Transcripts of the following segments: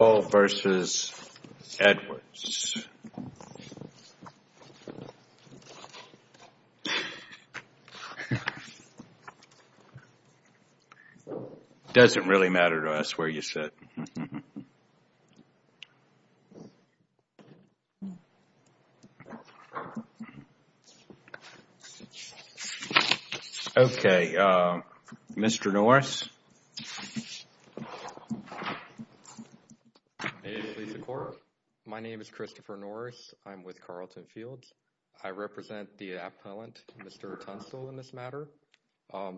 Tunstall v. Edwards. Doesn't really matter to us where you sit. Okay, Mr. Norris. My name is Christopher Norris. I'm with Carlton Fields. I represent the appellant Mr. Tunstall in this matter.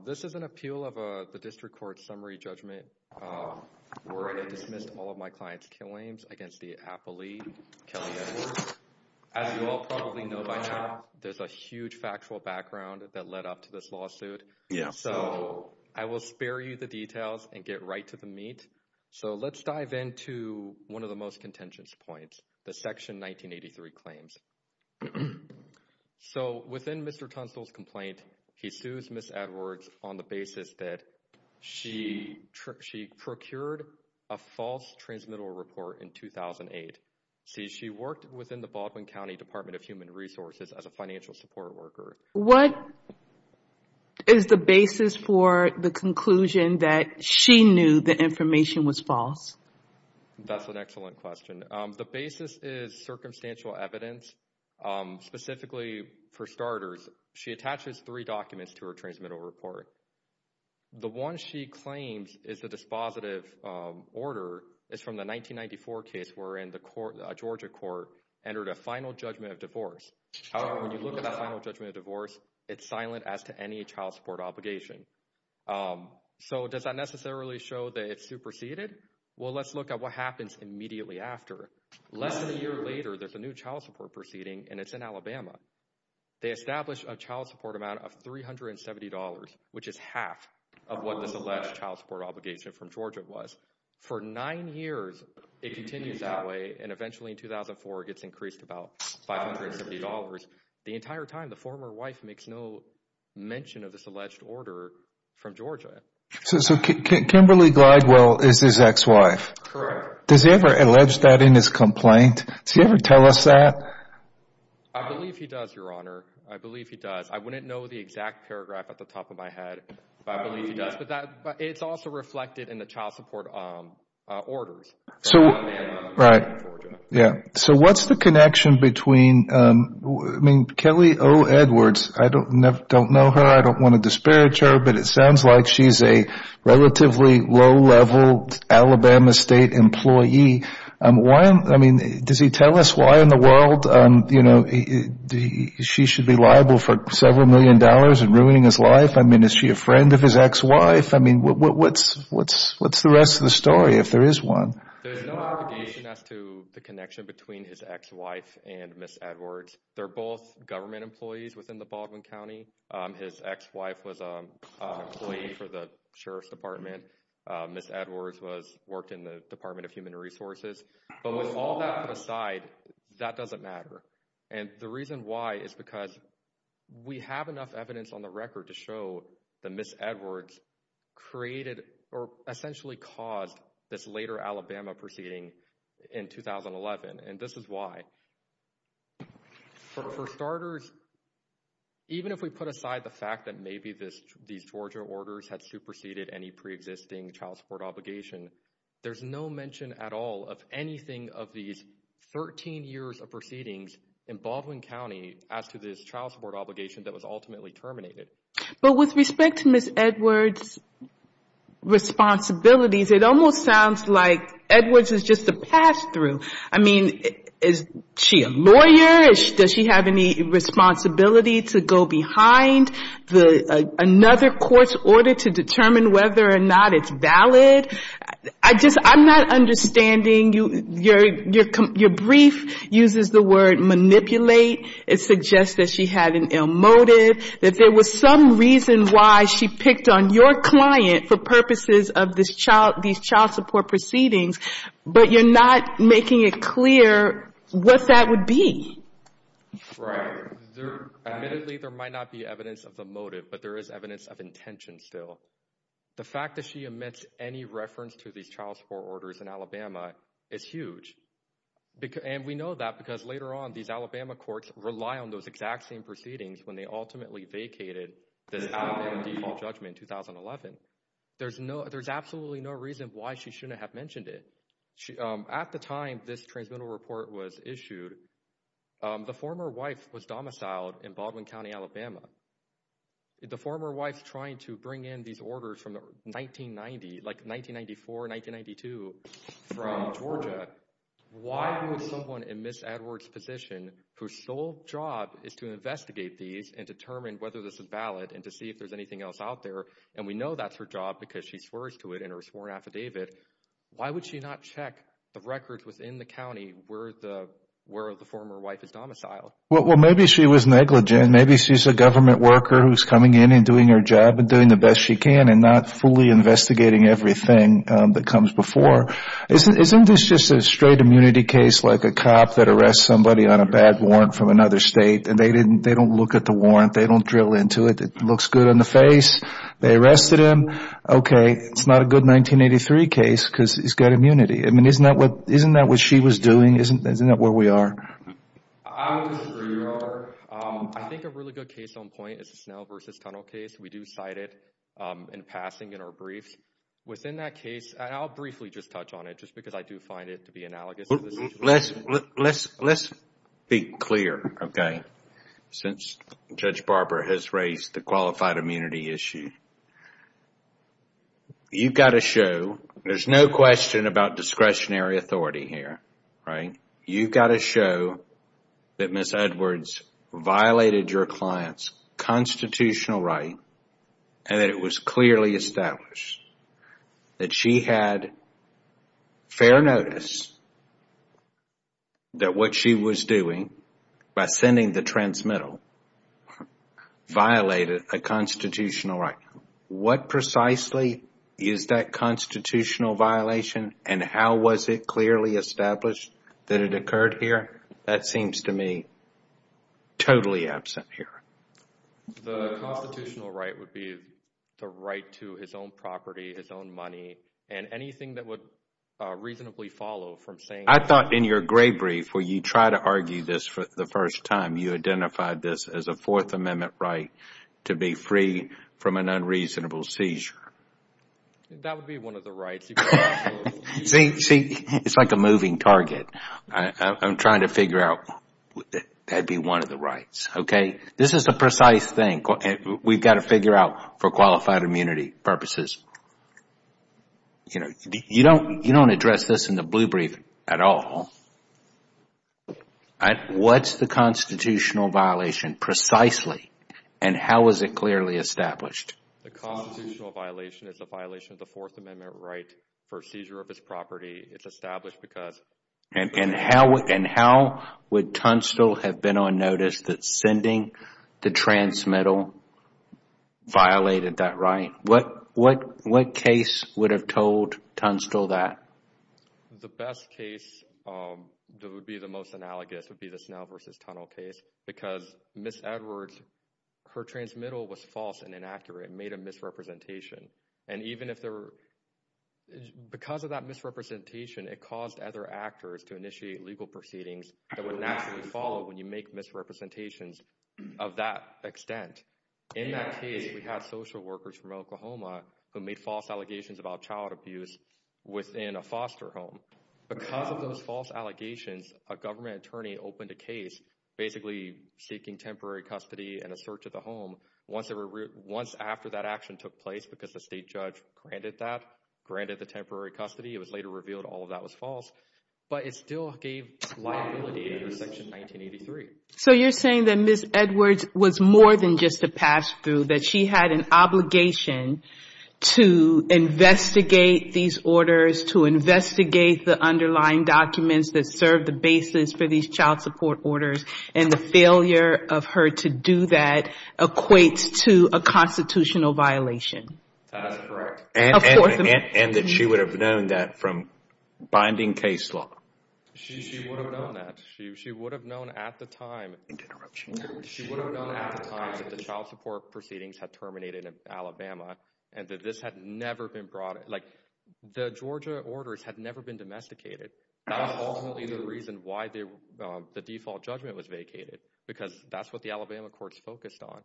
This is an appeal of the district court summary judgment where they dismissed all of my client's claims against the appellee, Kelley Edwards. As you all probably know by now, there's a huge factual background that led up to this lawsuit. So I will spare you the details and get right to the meat. So let's dive into one of the most contentious points, the Section 1983 claims. So within Mr. Tunstall's complaint, he sues Ms. Edwards on the basis that she procured a false transmittal report in 2008. See, she worked within the Baldwin County Department of Human Resources as a financial support worker. What is the basis for the conclusion that she knew the information was false? That's an excellent question. The basis is circumstantial evidence. Specifically, for starters, she attaches three documents to her transmittal report. The one she claims is a dispositive order is from the 1994 case where in the court, Georgia court entered a final judgment of divorce. When you look at that final judgment of divorce, it's silent as to any child support obligation. So does that necessarily show that it's superseded? Well, let's look at what happens immediately after. Less than a year later, there's a new child support proceeding, and it's in Alabama. They establish a child support amount of $370, which is half of what this alleged child support obligation from Georgia was. For nine years, it continues that way, and eventually in 2004, it gets increased to about $570. The entire time, the former wife makes no mention of this alleged order from Georgia. So Kimberly Glidewell is his ex-wife. Correct. Does he ever allege that in his complaint? Does he ever tell us that? I believe he does, Your Honor. I believe he does. I wouldn't know the exact paragraph off the top of my head, but I believe he does. But it's also reflected in the child support orders. So what's the connection between Kelly O. Edwards? I don't know her. I don't want to disparage her. But it sounds like she's a relatively low-level Alabama State employee. Does he tell us why in the world she should be liable for several million dollars and ruining his life? I mean, is she a friend of his ex-wife? I mean, what's the rest of the story if there is one? There's no obligation as to the connection between his ex-wife and Ms. Edwards. They're both government employees within the Baldwin County. His ex-wife was an employee for the Sheriff's Department. Ms. Edwards worked in the Department of Human Resources. But with all that aside, that doesn't matter. And the reason why is because we have enough evidence on the record to show that Ms. Edwards created or essentially caused this later Alabama proceeding in 2011. And this is why. For starters, even if we put aside the fact that maybe these Georgia orders had superseded any pre-existing child support obligation, there's no mention at all of anything of these 13 years of proceedings in Baldwin County as to this child support obligation that was ultimately terminated. But with respect to Ms. Edwards' responsibilities, it almost sounds like Edwards is just a pass-through. I mean, is she a lawyer? Does she have any responsibility to go behind another court's order to determine whether or not it's valid? I'm not understanding. Your brief uses the word manipulate. It suggests that she had an ill motive, that there was some reason why she picked on your client for purposes of these child support proceedings. But you're not making it clear what that would be. Right. Admittedly, there might not be evidence of the motive, but there is evidence of intention still. The fact that she omits any reference to these child support orders in Alabama is huge. And we know that because later on, these Alabama courts rely on those exact same proceedings when they ultimately vacated this Alabama default judgment in 2011. There's absolutely no reason why she shouldn't have mentioned it. At the time this transmittal report was issued, the former wife was domiciled in Baldwin County, Alabama. The former wife's trying to bring in these orders from 1990, like 1994, 1992 from Georgia. Why would someone in Ms. Edwards' position, whose sole job is to investigate these and determine whether this is valid and to see if there's anything else out there, and we know that's her job because she swears to it in her sworn affidavit, why would she not check the records within the county where the former wife is domiciled? Well, maybe she was negligent. Maybe she's a government worker who's coming in and doing her job and doing the best she can and not fully investigating everything that comes before. Isn't this just a straight immunity case like a cop that arrests somebody on a bad warrant from another state and they don't look at the warrant, they don't drill into it, it looks good on the face, they arrested him. Okay, it's not a good 1983 case because he's got immunity. Isn't that what she was doing? Isn't that where we are? I would disagree, Robert. I think a really good case on point is the Snell v. Tunnel case. We do cite it in passing in our briefs. Within that case, and I'll briefly just touch on it just because I do find it to be analogous to this situation. Let's be clear, okay, since Judge Barber has raised the qualified immunity issue. You've got to show, there's no question about discretionary authority here, right? You've got to show that Ms. Edwards violated your client's constitutional right and that it was clearly established that she had fair notice that what she was doing by sending the transmittal violated a constitutional right. What precisely is that constitutional violation and how was it clearly established that it occurred here? That seems to me totally absent here. The constitutional right would be the right to his own property, his own money, and anything that would reasonably follow from saying- I thought in your gray brief where you try to argue this for the first time, you identified this as a Fourth Amendment right to be free from an unreasonable seizure. That would be one of the rights. See, it's like a moving target. I'm trying to figure out if that would be one of the rights. This is a precise thing. We've got to figure out for qualified immunity purposes. You don't address this in the blue brief at all. What's the constitutional violation precisely and how was it clearly established? The constitutional violation is a violation of the Fourth Amendment right for seizure of his property. It's established because- How would Tunstall have been on notice that sending the transmittal violated that right? What case would have told Tunstall that? The best case that would be the most analogous would be the Snell v. Tunnell case because Ms. Edwards, her transmittal was false and inaccurate and made a misrepresentation. Because of that misrepresentation, it caused other actors to initiate legal proceedings that would naturally follow when you make misrepresentations of that extent. In that case, we had social workers from Oklahoma who made false allegations about child abuse within a foster home. Because of those false allegations, a government attorney opened a case basically seeking temporary custody and a search of the home once after that action took place because the state judge granted that, granted the temporary custody. It was later revealed all of that was false. But it still gave liability under Section 1983. So you're saying that Ms. Edwards was more than just a pass-through, that she had an obligation to investigate these orders, to investigate the underlying documents that serve the basis for these child support orders and the failure of her to do that equates to a constitutional violation? That is correct. And that she would have known that from binding case law? She would have known that. She would have known at the time that the child support proceedings had terminated in Alabama and that this had never been brought, like the Georgia orders had never been domesticated. That was ultimately the reason why the default judgment was vacated because that's what the Alabama courts focused on.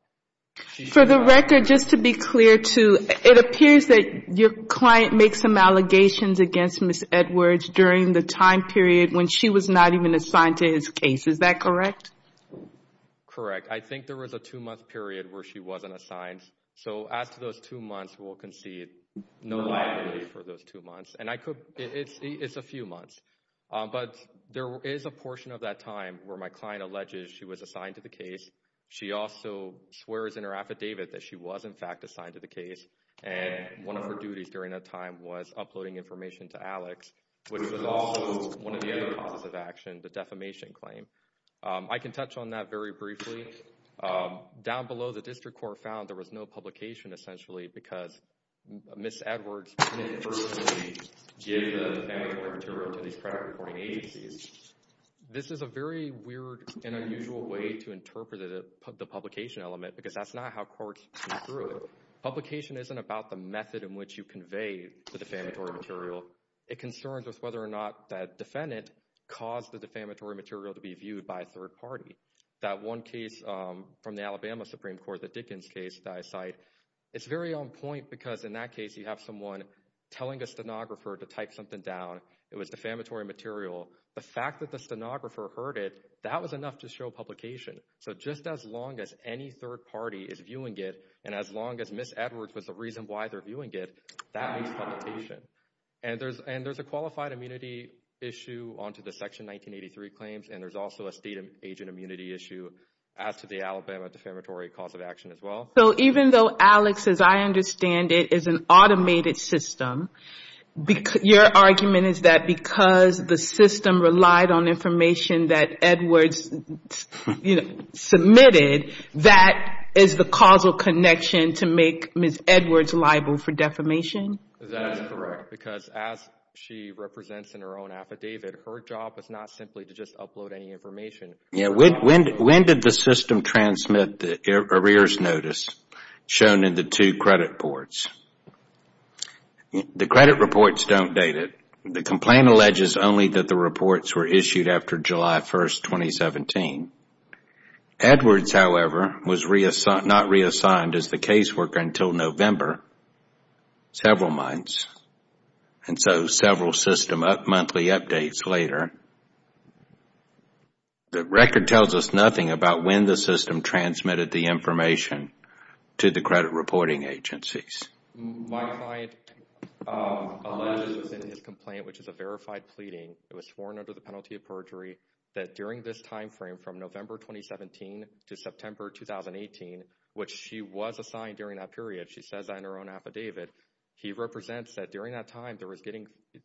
For the record, just to be clear too, it appears that your client makes some allegations against Ms. Edwards during the time period when she was not even assigned to his case. Is that correct? Correct. I think there was a two-month period where she wasn't assigned. It's a few months. But there is a portion of that time where my client alleges she was assigned to the case. She also swears in her affidavit that she was in fact assigned to the case and one of her duties during that time was uploading information to Alex, which was also one of the other causes of action, the defamation claim. I can touch on that very briefly. Down below, the district court found there was no publication essentially because Ms. Edwards couldn't personally give the defamatory material to these credit reporting agencies. This is a very weird and unusual way to interpret the publication element because that's not how courts go through it. Publication isn't about the method in which you convey the defamatory material. It concerns with whether or not that defendant caused the defamatory material to be viewed by a third party. That one case from the Alabama Supreme Court, the Dickens case that I cite, it's very on point because in that case you have someone telling a stenographer to type something down. It was defamatory material. The fact that the stenographer heard it, that was enough to show publication. So just as long as any third party is viewing it and as long as Ms. Edwards was the reason why they're viewing it, that makes publication. And there's a qualified immunity issue onto the Section 1983 claims and there's also a state agent immunity issue as to the Alabama defamatory cause of action as well. So even though, Alex, as I understand it, is an automated system, your argument is that because the system relied on information that Edwards submitted, that is the causal connection to make Ms. Edwards liable for defamation? That is correct because as she represents in her own affidavit, her job is not simply to just upload any information. When did the system transmit the arrears notice shown in the two credit reports? The credit reports don't date it. The complaint alleges only that the reports were issued after July 1, 2017. Edwards, however, was not reassigned as the caseworker until November, several months and so several system monthly updates later. The record tells us nothing about when the system transmitted the information to the credit reporting agencies. My client alleges in his complaint, which is a verified pleading, it was sworn under the penalty of perjury, that during this time frame from November 2017 to September 2018, which she was assigned during that period, she says that in her own affidavit, he represents that during that time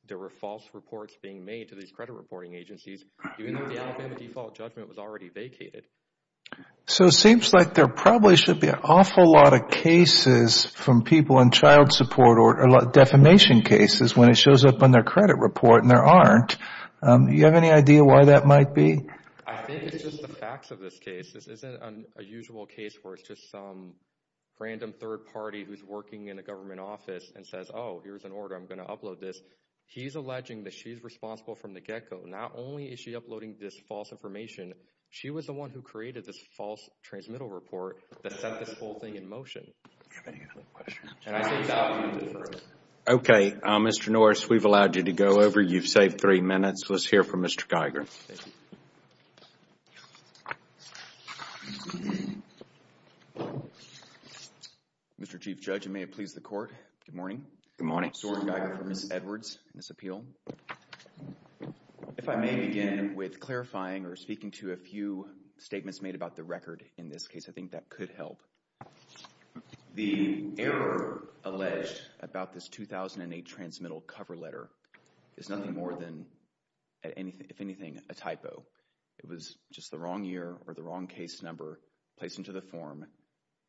there were false reports being made to these credit reporting agencies, even though the Alabama default judgment was already vacated. So it seems like there probably should be an awful lot of cases from people in child support or defamation cases when it shows up on their credit report and there aren't. Do you have any idea why that might be? I think it's just the facts of this case. This isn't a usual case where it's just some random third party who's working in a government office and says, oh, here's an order, I'm going to upload this. He's alleging that she's responsible from the get-go. Not only is she uploading this false information, she was the one who created this false transmittal report that sent this whole thing in motion. Okay, Mr. Norris, we've allowed you to go over. You've saved three minutes. Let's hear from Mr. Geiger. Mr. Chief Judge, and may it please the court, good morning. Good morning. Soren Geiger for Ms. Edwards in this appeal. If I may begin with clarifying or speaking to a few statements made about the record in this case, I think that could help. The error alleged about this 2008 transmittal cover letter is nothing more than, if anything, a typo. It was just the wrong year or the wrong case number placed into the form.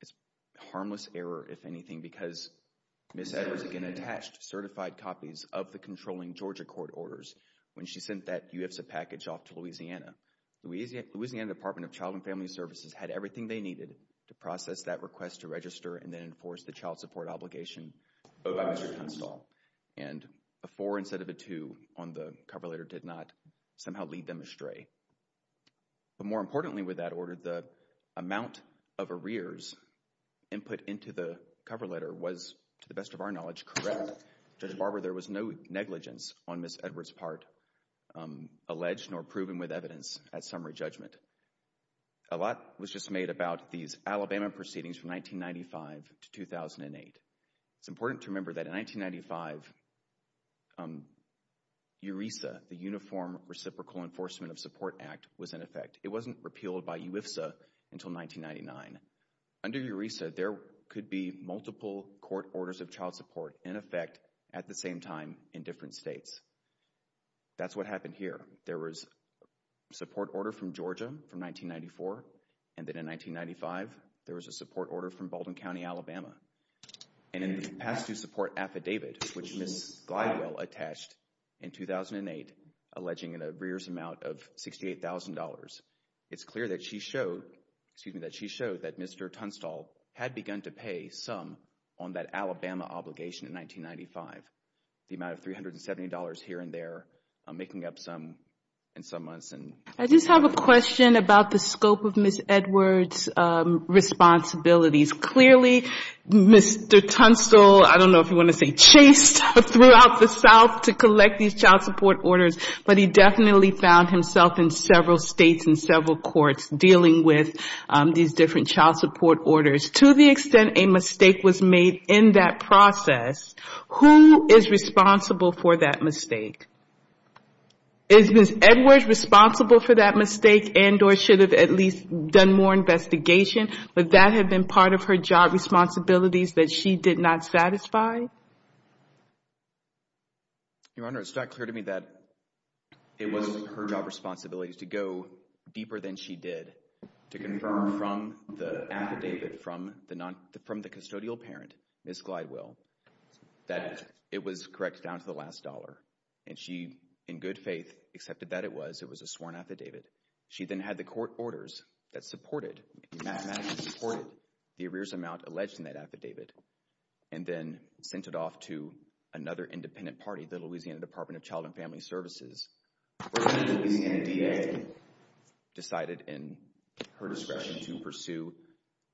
It's a harmless error, if anything, because Ms. Edwards, again, attached certified copies of the controlling Georgia court orders when she sent that UFSA package off to Louisiana. Louisiana Department of Child and Family Services had everything they needed to process that request to register and then enforce the child support obligation owed by Mr. Tunstall. And a four instead of a two on the cover letter did not somehow lead them astray. But more importantly with that order, the amount of arrears input into the cover letter was, to the best of our knowledge, correct. Judge Barber, there was no negligence on Ms. Edwards' part alleged nor proven with evidence at summary judgment. A lot was just made about these Alabama proceedings from 1995 to 2008. It's important to remember that in 1995, EURESA, the Uniform Reciprocal Enforcement of Support Act, was in effect. It wasn't repealed by UFSA until 1999. Under EURESA, there could be multiple court orders of child support in effect at the same time in different states. That's what happened here. There was a support order from Georgia from 1994 and then in 1995, there was a support order from Baldwin County, Alabama. And in the past due support affidavit, which Ms. Glidewell attached in 2008, alleging an arrears amount of $68,000, it's clear that she showed, excuse me, that she showed that Mr. Tunstall had begun to pay some on that Alabama obligation in 1995, the amount of $370 here and there, making up some in some months. I just have a question about the scope of Ms. Edwards' responsibilities. Clearly, Mr. Tunstall, I don't know if you want to say chased throughout the South to collect these child support orders, but he definitely found himself in several states and several courts dealing with these different child support orders. To the extent a mistake was made in that process, who is responsible for that mistake? Is Ms. Edwards responsible for that mistake and or should have at least done more investigation? Would that have been part of her job responsibilities that she did not satisfy? Your Honor, it's not clear to me that it was her job responsibility to go deeper than she did to confirm from the affidavit from the custodial parent, Ms. Glidewell, that it was correct down to the last dollar. And she, in good faith, accepted that it was. It was a sworn affidavit. She then had the court orders that supported, mathematically supported, the arrears amount alleged in that affidavit and then sent it off to another independent party, the Louisiana Department of Child and Family Services. The NDA decided in her discretion to pursue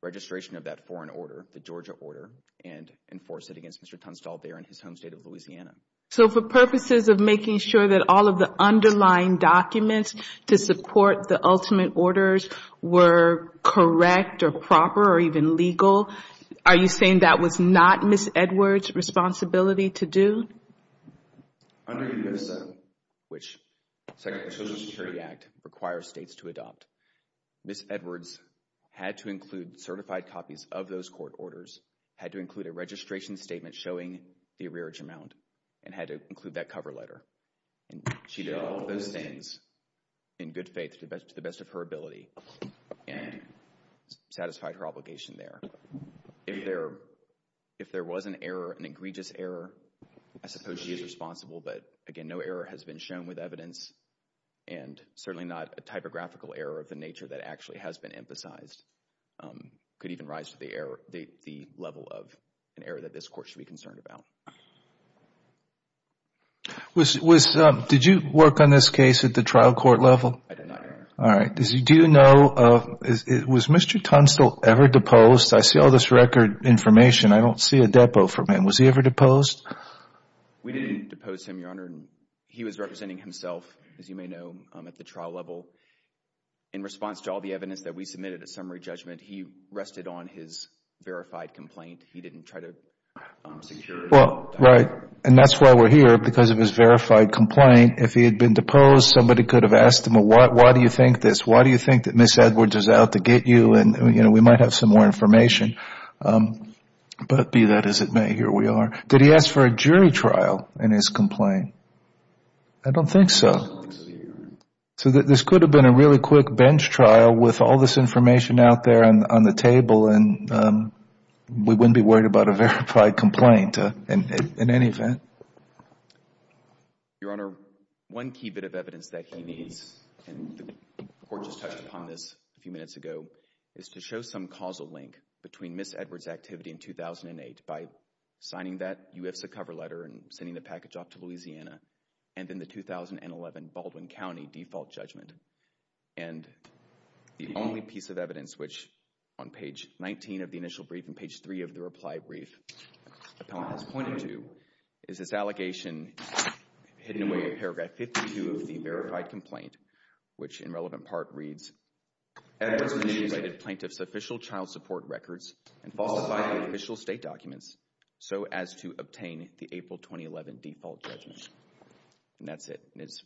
registration of that foreign order, the Georgia order, and enforce it against Mr. Tunstall there in his home state of Louisiana. So for purposes of making sure that all of the underlying documents to support the ultimate orders were correct or proper or even legal, are you saying that was not Ms. Edwards' responsibility to do? Under U.S.A., which the Social Security Act requires states to adopt, Ms. Edwards had to include certified copies of those court orders, had to include a registration statement showing the arrearage amount, and had to include that cover letter. She did all of those things in good faith to the best of her ability and satisfied her obligation there. If there was an error, an egregious error, I suppose she is responsible. But again, no error has been shown with evidence and certainly not a typographical error of the nature that actually has been emphasized. It could even rise to the level of an error that this court should be concerned about. Did you work on this case at the trial court level? I did not, Your Honor. All right. Do you know, was Mr. Tunstall ever deposed? I see all this record information. I don't see a depo from him. Was he ever deposed? We didn't depose him, Your Honor. He was representing himself, as you may know, at the trial level. In response to all the evidence that we submitted at summary judgment, he rested on his verified complaint. He didn't try to secure it. Right. And that's why we're here, because of his verified complaint. If he had been deposed, somebody could have asked him, why do you think this? Why do you think that Ms. Edwards is out to get you? We might have some more information. But be that as it may, here we are. Did he ask for a jury trial in his complaint? I don't think so. This could have been a really quick bench trial with all this information out there on the table and we wouldn't be worried about a verified complaint in any event. Your Honor, one key bit of evidence that he needs, and the Court just touched upon this a few minutes ago, is to show some causal link between Ms. Edwards' activity in 2008 by signing that UIFSA cover letter and sending the package off to Louisiana and then the 2011 Baldwin County default judgment. And the only piece of evidence which, on page 19 of the initial brief and page 3 of the reply brief, appellant has pointed to, is this allegation hidden away in paragraph 52 of the verified complaint, which in relevant part reads, Edwards manipulated plaintiff's official child support records and falsified official state documents so as to obtain the April 2011 default judgment. And that's it. It's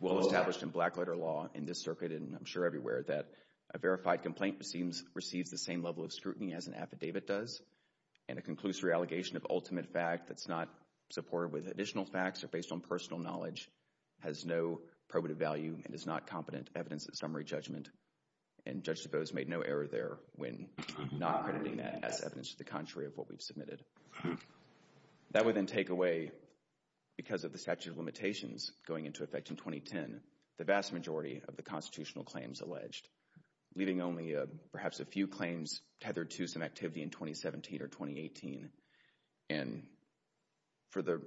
well established in black letter law in this circuit and I'm sure everywhere that a verified complaint receives the same level of scrutiny as an affidavit does and a conclusory allegation of ultimate fact that's not supported with additional facts or based on personal knowledge has no probative value and is not competent evidence at summary judgment. And Judge DeBose made no error there when not crediting that as evidence to the contrary of what we've submitted. That would then take away, because of the statute of limitations going into effect in 2010, the vast majority of the constitutional claims alleged, leaving only perhaps a few claims tethered to some activity in 2017 or 2018. And for the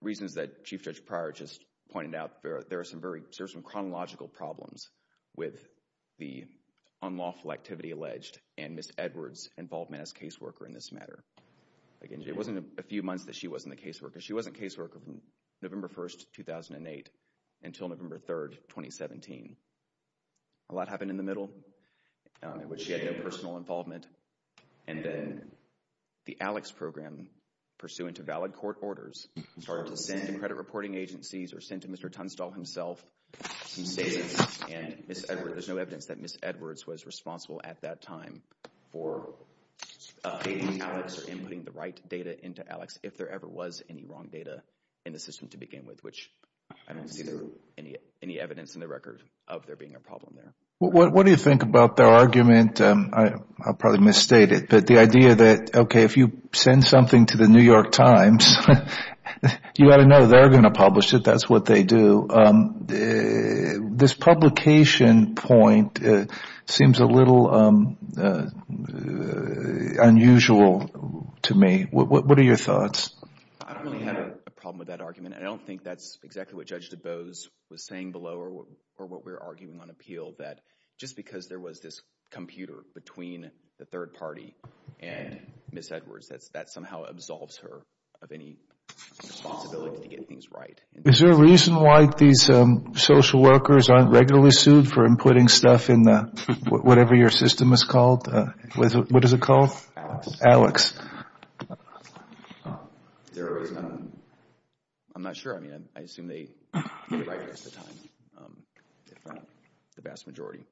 reasons that Chief Judge Pryor just pointed out, there are some chronological problems with the unlawful activity alleged and Ms. Edwards' involvement as caseworker in this matter. It wasn't a few months that she wasn't a caseworker. She wasn't a caseworker from November 1, 2008, until November 3, 2017. A lot happened in the middle, in which she had no personal involvement, and then the ALEKS program, pursuant to valid court orders, started to send to credit reporting agencies or send to Mr. Tunstall himself some statements and there's no evidence that Ms. Edwards was responsible at that time for updating ALEKS or inputting the right data into ALEKS if there ever was any wrong data in the system to begin with, which I don't see any evidence in the record of there being a problem there. What do you think about their argument, I'll probably misstate it, but the idea that, okay, if you send something to the New York Times, you've got to know they're going to publish it, that's what they do. This publication point seems a little unusual to me. What are your thoughts? I don't really have a problem with that argument. I don't think that's exactly what Judge DuBose was saying below or what we're arguing on appeal, that just because there was this computer between the third party and Ms. Edwards, that somehow absolves her of any responsibility to get things right. Is there a reason why these social workers aren't regularly sued for inputting stuff in whatever your system is called? What is it called? ALEKS. ALEKS. I'm not sure. I mean, I assume they get it right most of the time, the vast majority.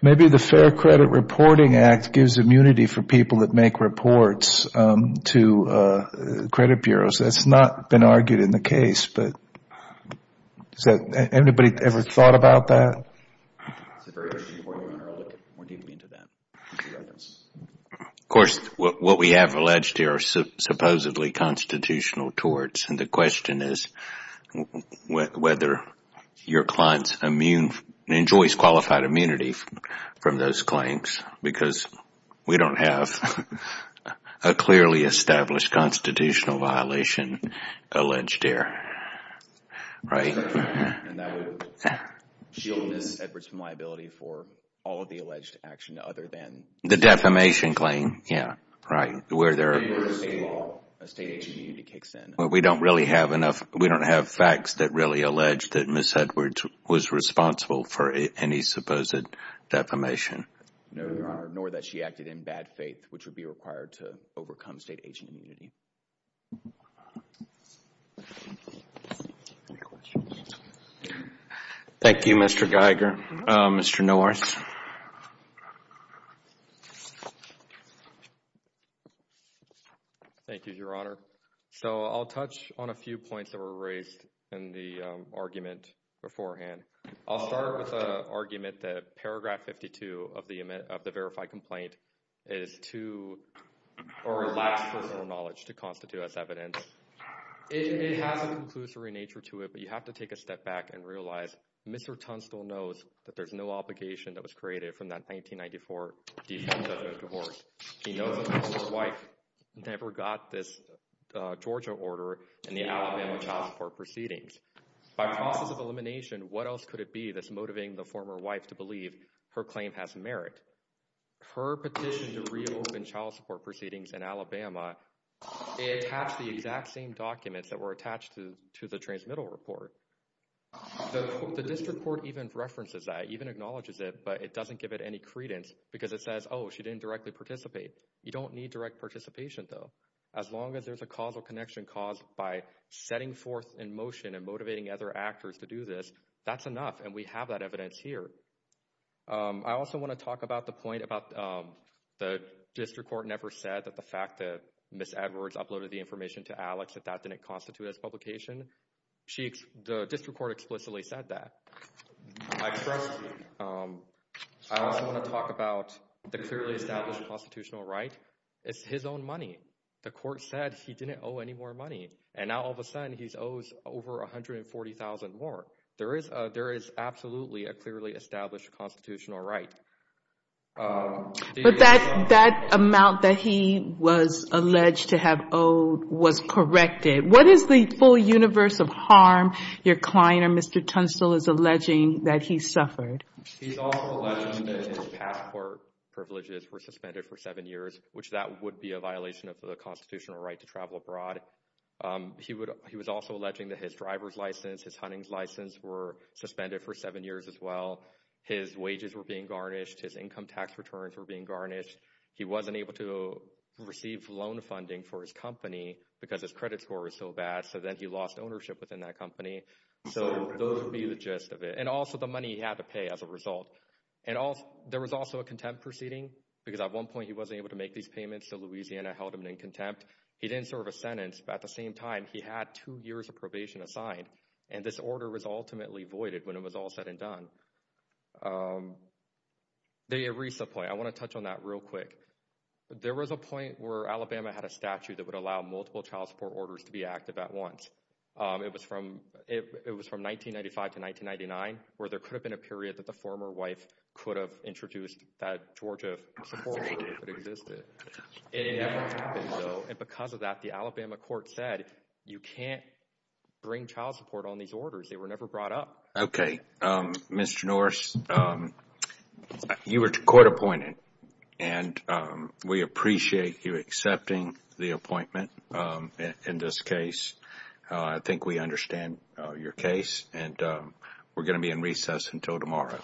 Maybe the Fair Credit Reporting Act gives immunity for people that make reports to credit bureaus. That's not been argued in the case, but has anybody ever thought about that? Of course, what we have alleged here are supposedly constitutional torts, and the question is whether your client enjoys qualified immunity from those claims because we don't have a clearly established constitutional violation alleged here. And that would shield Ms. Edwards from liability for all of the alleged action other than... The defamation claim. Yeah. Right. Where a state agency immunity kicks in. We don't really have enough. We don't have facts that really allege that Ms. Edwards was responsible for any supposed defamation. No, Your Honor, nor that she acted in bad faith, which would be required to overcome state agency immunity. Thank you, Mr. Geiger. Mr. North. Thank you, Your Honor. So I'll touch on a few points that were raised in the argument beforehand. I'll start with the argument that Paragraph 52 of the Verified Complaint is too or lacks personal knowledge to constitute as evidence. It has a conclusory nature to it, but you have to take a step back and realize Mr. Tunstall knows that there's no obligation that was created from that 1994 defense of a divorce. He knows that his wife never got this Georgia order in the Alabama child support proceedings. By process of elimination, what else could it be that's motivating the former wife to believe her claim has merit? Her petition to reopen child support proceedings in Alabama, it has the exact same documents that were attached to the transmittal report. The district court even references that, even acknowledges it, but it doesn't give it any credence because it says, oh, she didn't directly participate. You don't need direct participation, though. As long as there's a causal connection caused by setting forth in motion and motivating other actors to do this, that's enough, and we have that evidence here. I also want to talk about the point about the district court never said that the fact that Ms. Edwards uploaded the information to Alex, that that didn't constitute as publication. The district court explicitly said that. I also want to talk about the clearly established constitutional right. It's his own money. The court said he didn't owe any more money, and now all of a sudden he owes over $140,000 more. There is absolutely a clearly established constitutional right. But that amount that he was alleged to have owed was corrected. What is the full universe of harm your client, or Mr. Tunstall, is alleging that he suffered? He's also alleging that his passport privileges were suspended for seven years, which that would be a violation of the constitutional right to travel abroad. He was also alleging that his driver's license, his hunting's license, were suspended for seven years as well. His wages were being garnished. His income tax returns were being garnished. He wasn't able to receive loan funding for his company because his credit score was so bad, so then he lost ownership within that company. So those would be the gist of it, and also the money he had to pay as a result. There was also a contempt proceeding, because at one point he wasn't able to make these payments, so Louisiana held him in contempt. He didn't serve a sentence, but at the same time, he had two years of probation assigned, and this order was ultimately voided when it was all said and done. The ERISA point, I want to touch on that real quick. There was a point where Alabama had a statute that would allow multiple child support orders to be active at once. It was from 1995 to 1999, where there could have been a period that the former wife could have introduced that Georgia support order if it existed. It never happened, though, and because of that, the Alabama court said, you can't bring child support on these orders. They were never brought up. Okay. Mr. Norris, you were court appointed, and we appreciate you accepting the appointment in this case. I think we understand your case, and we're going to be in recess until tomorrow.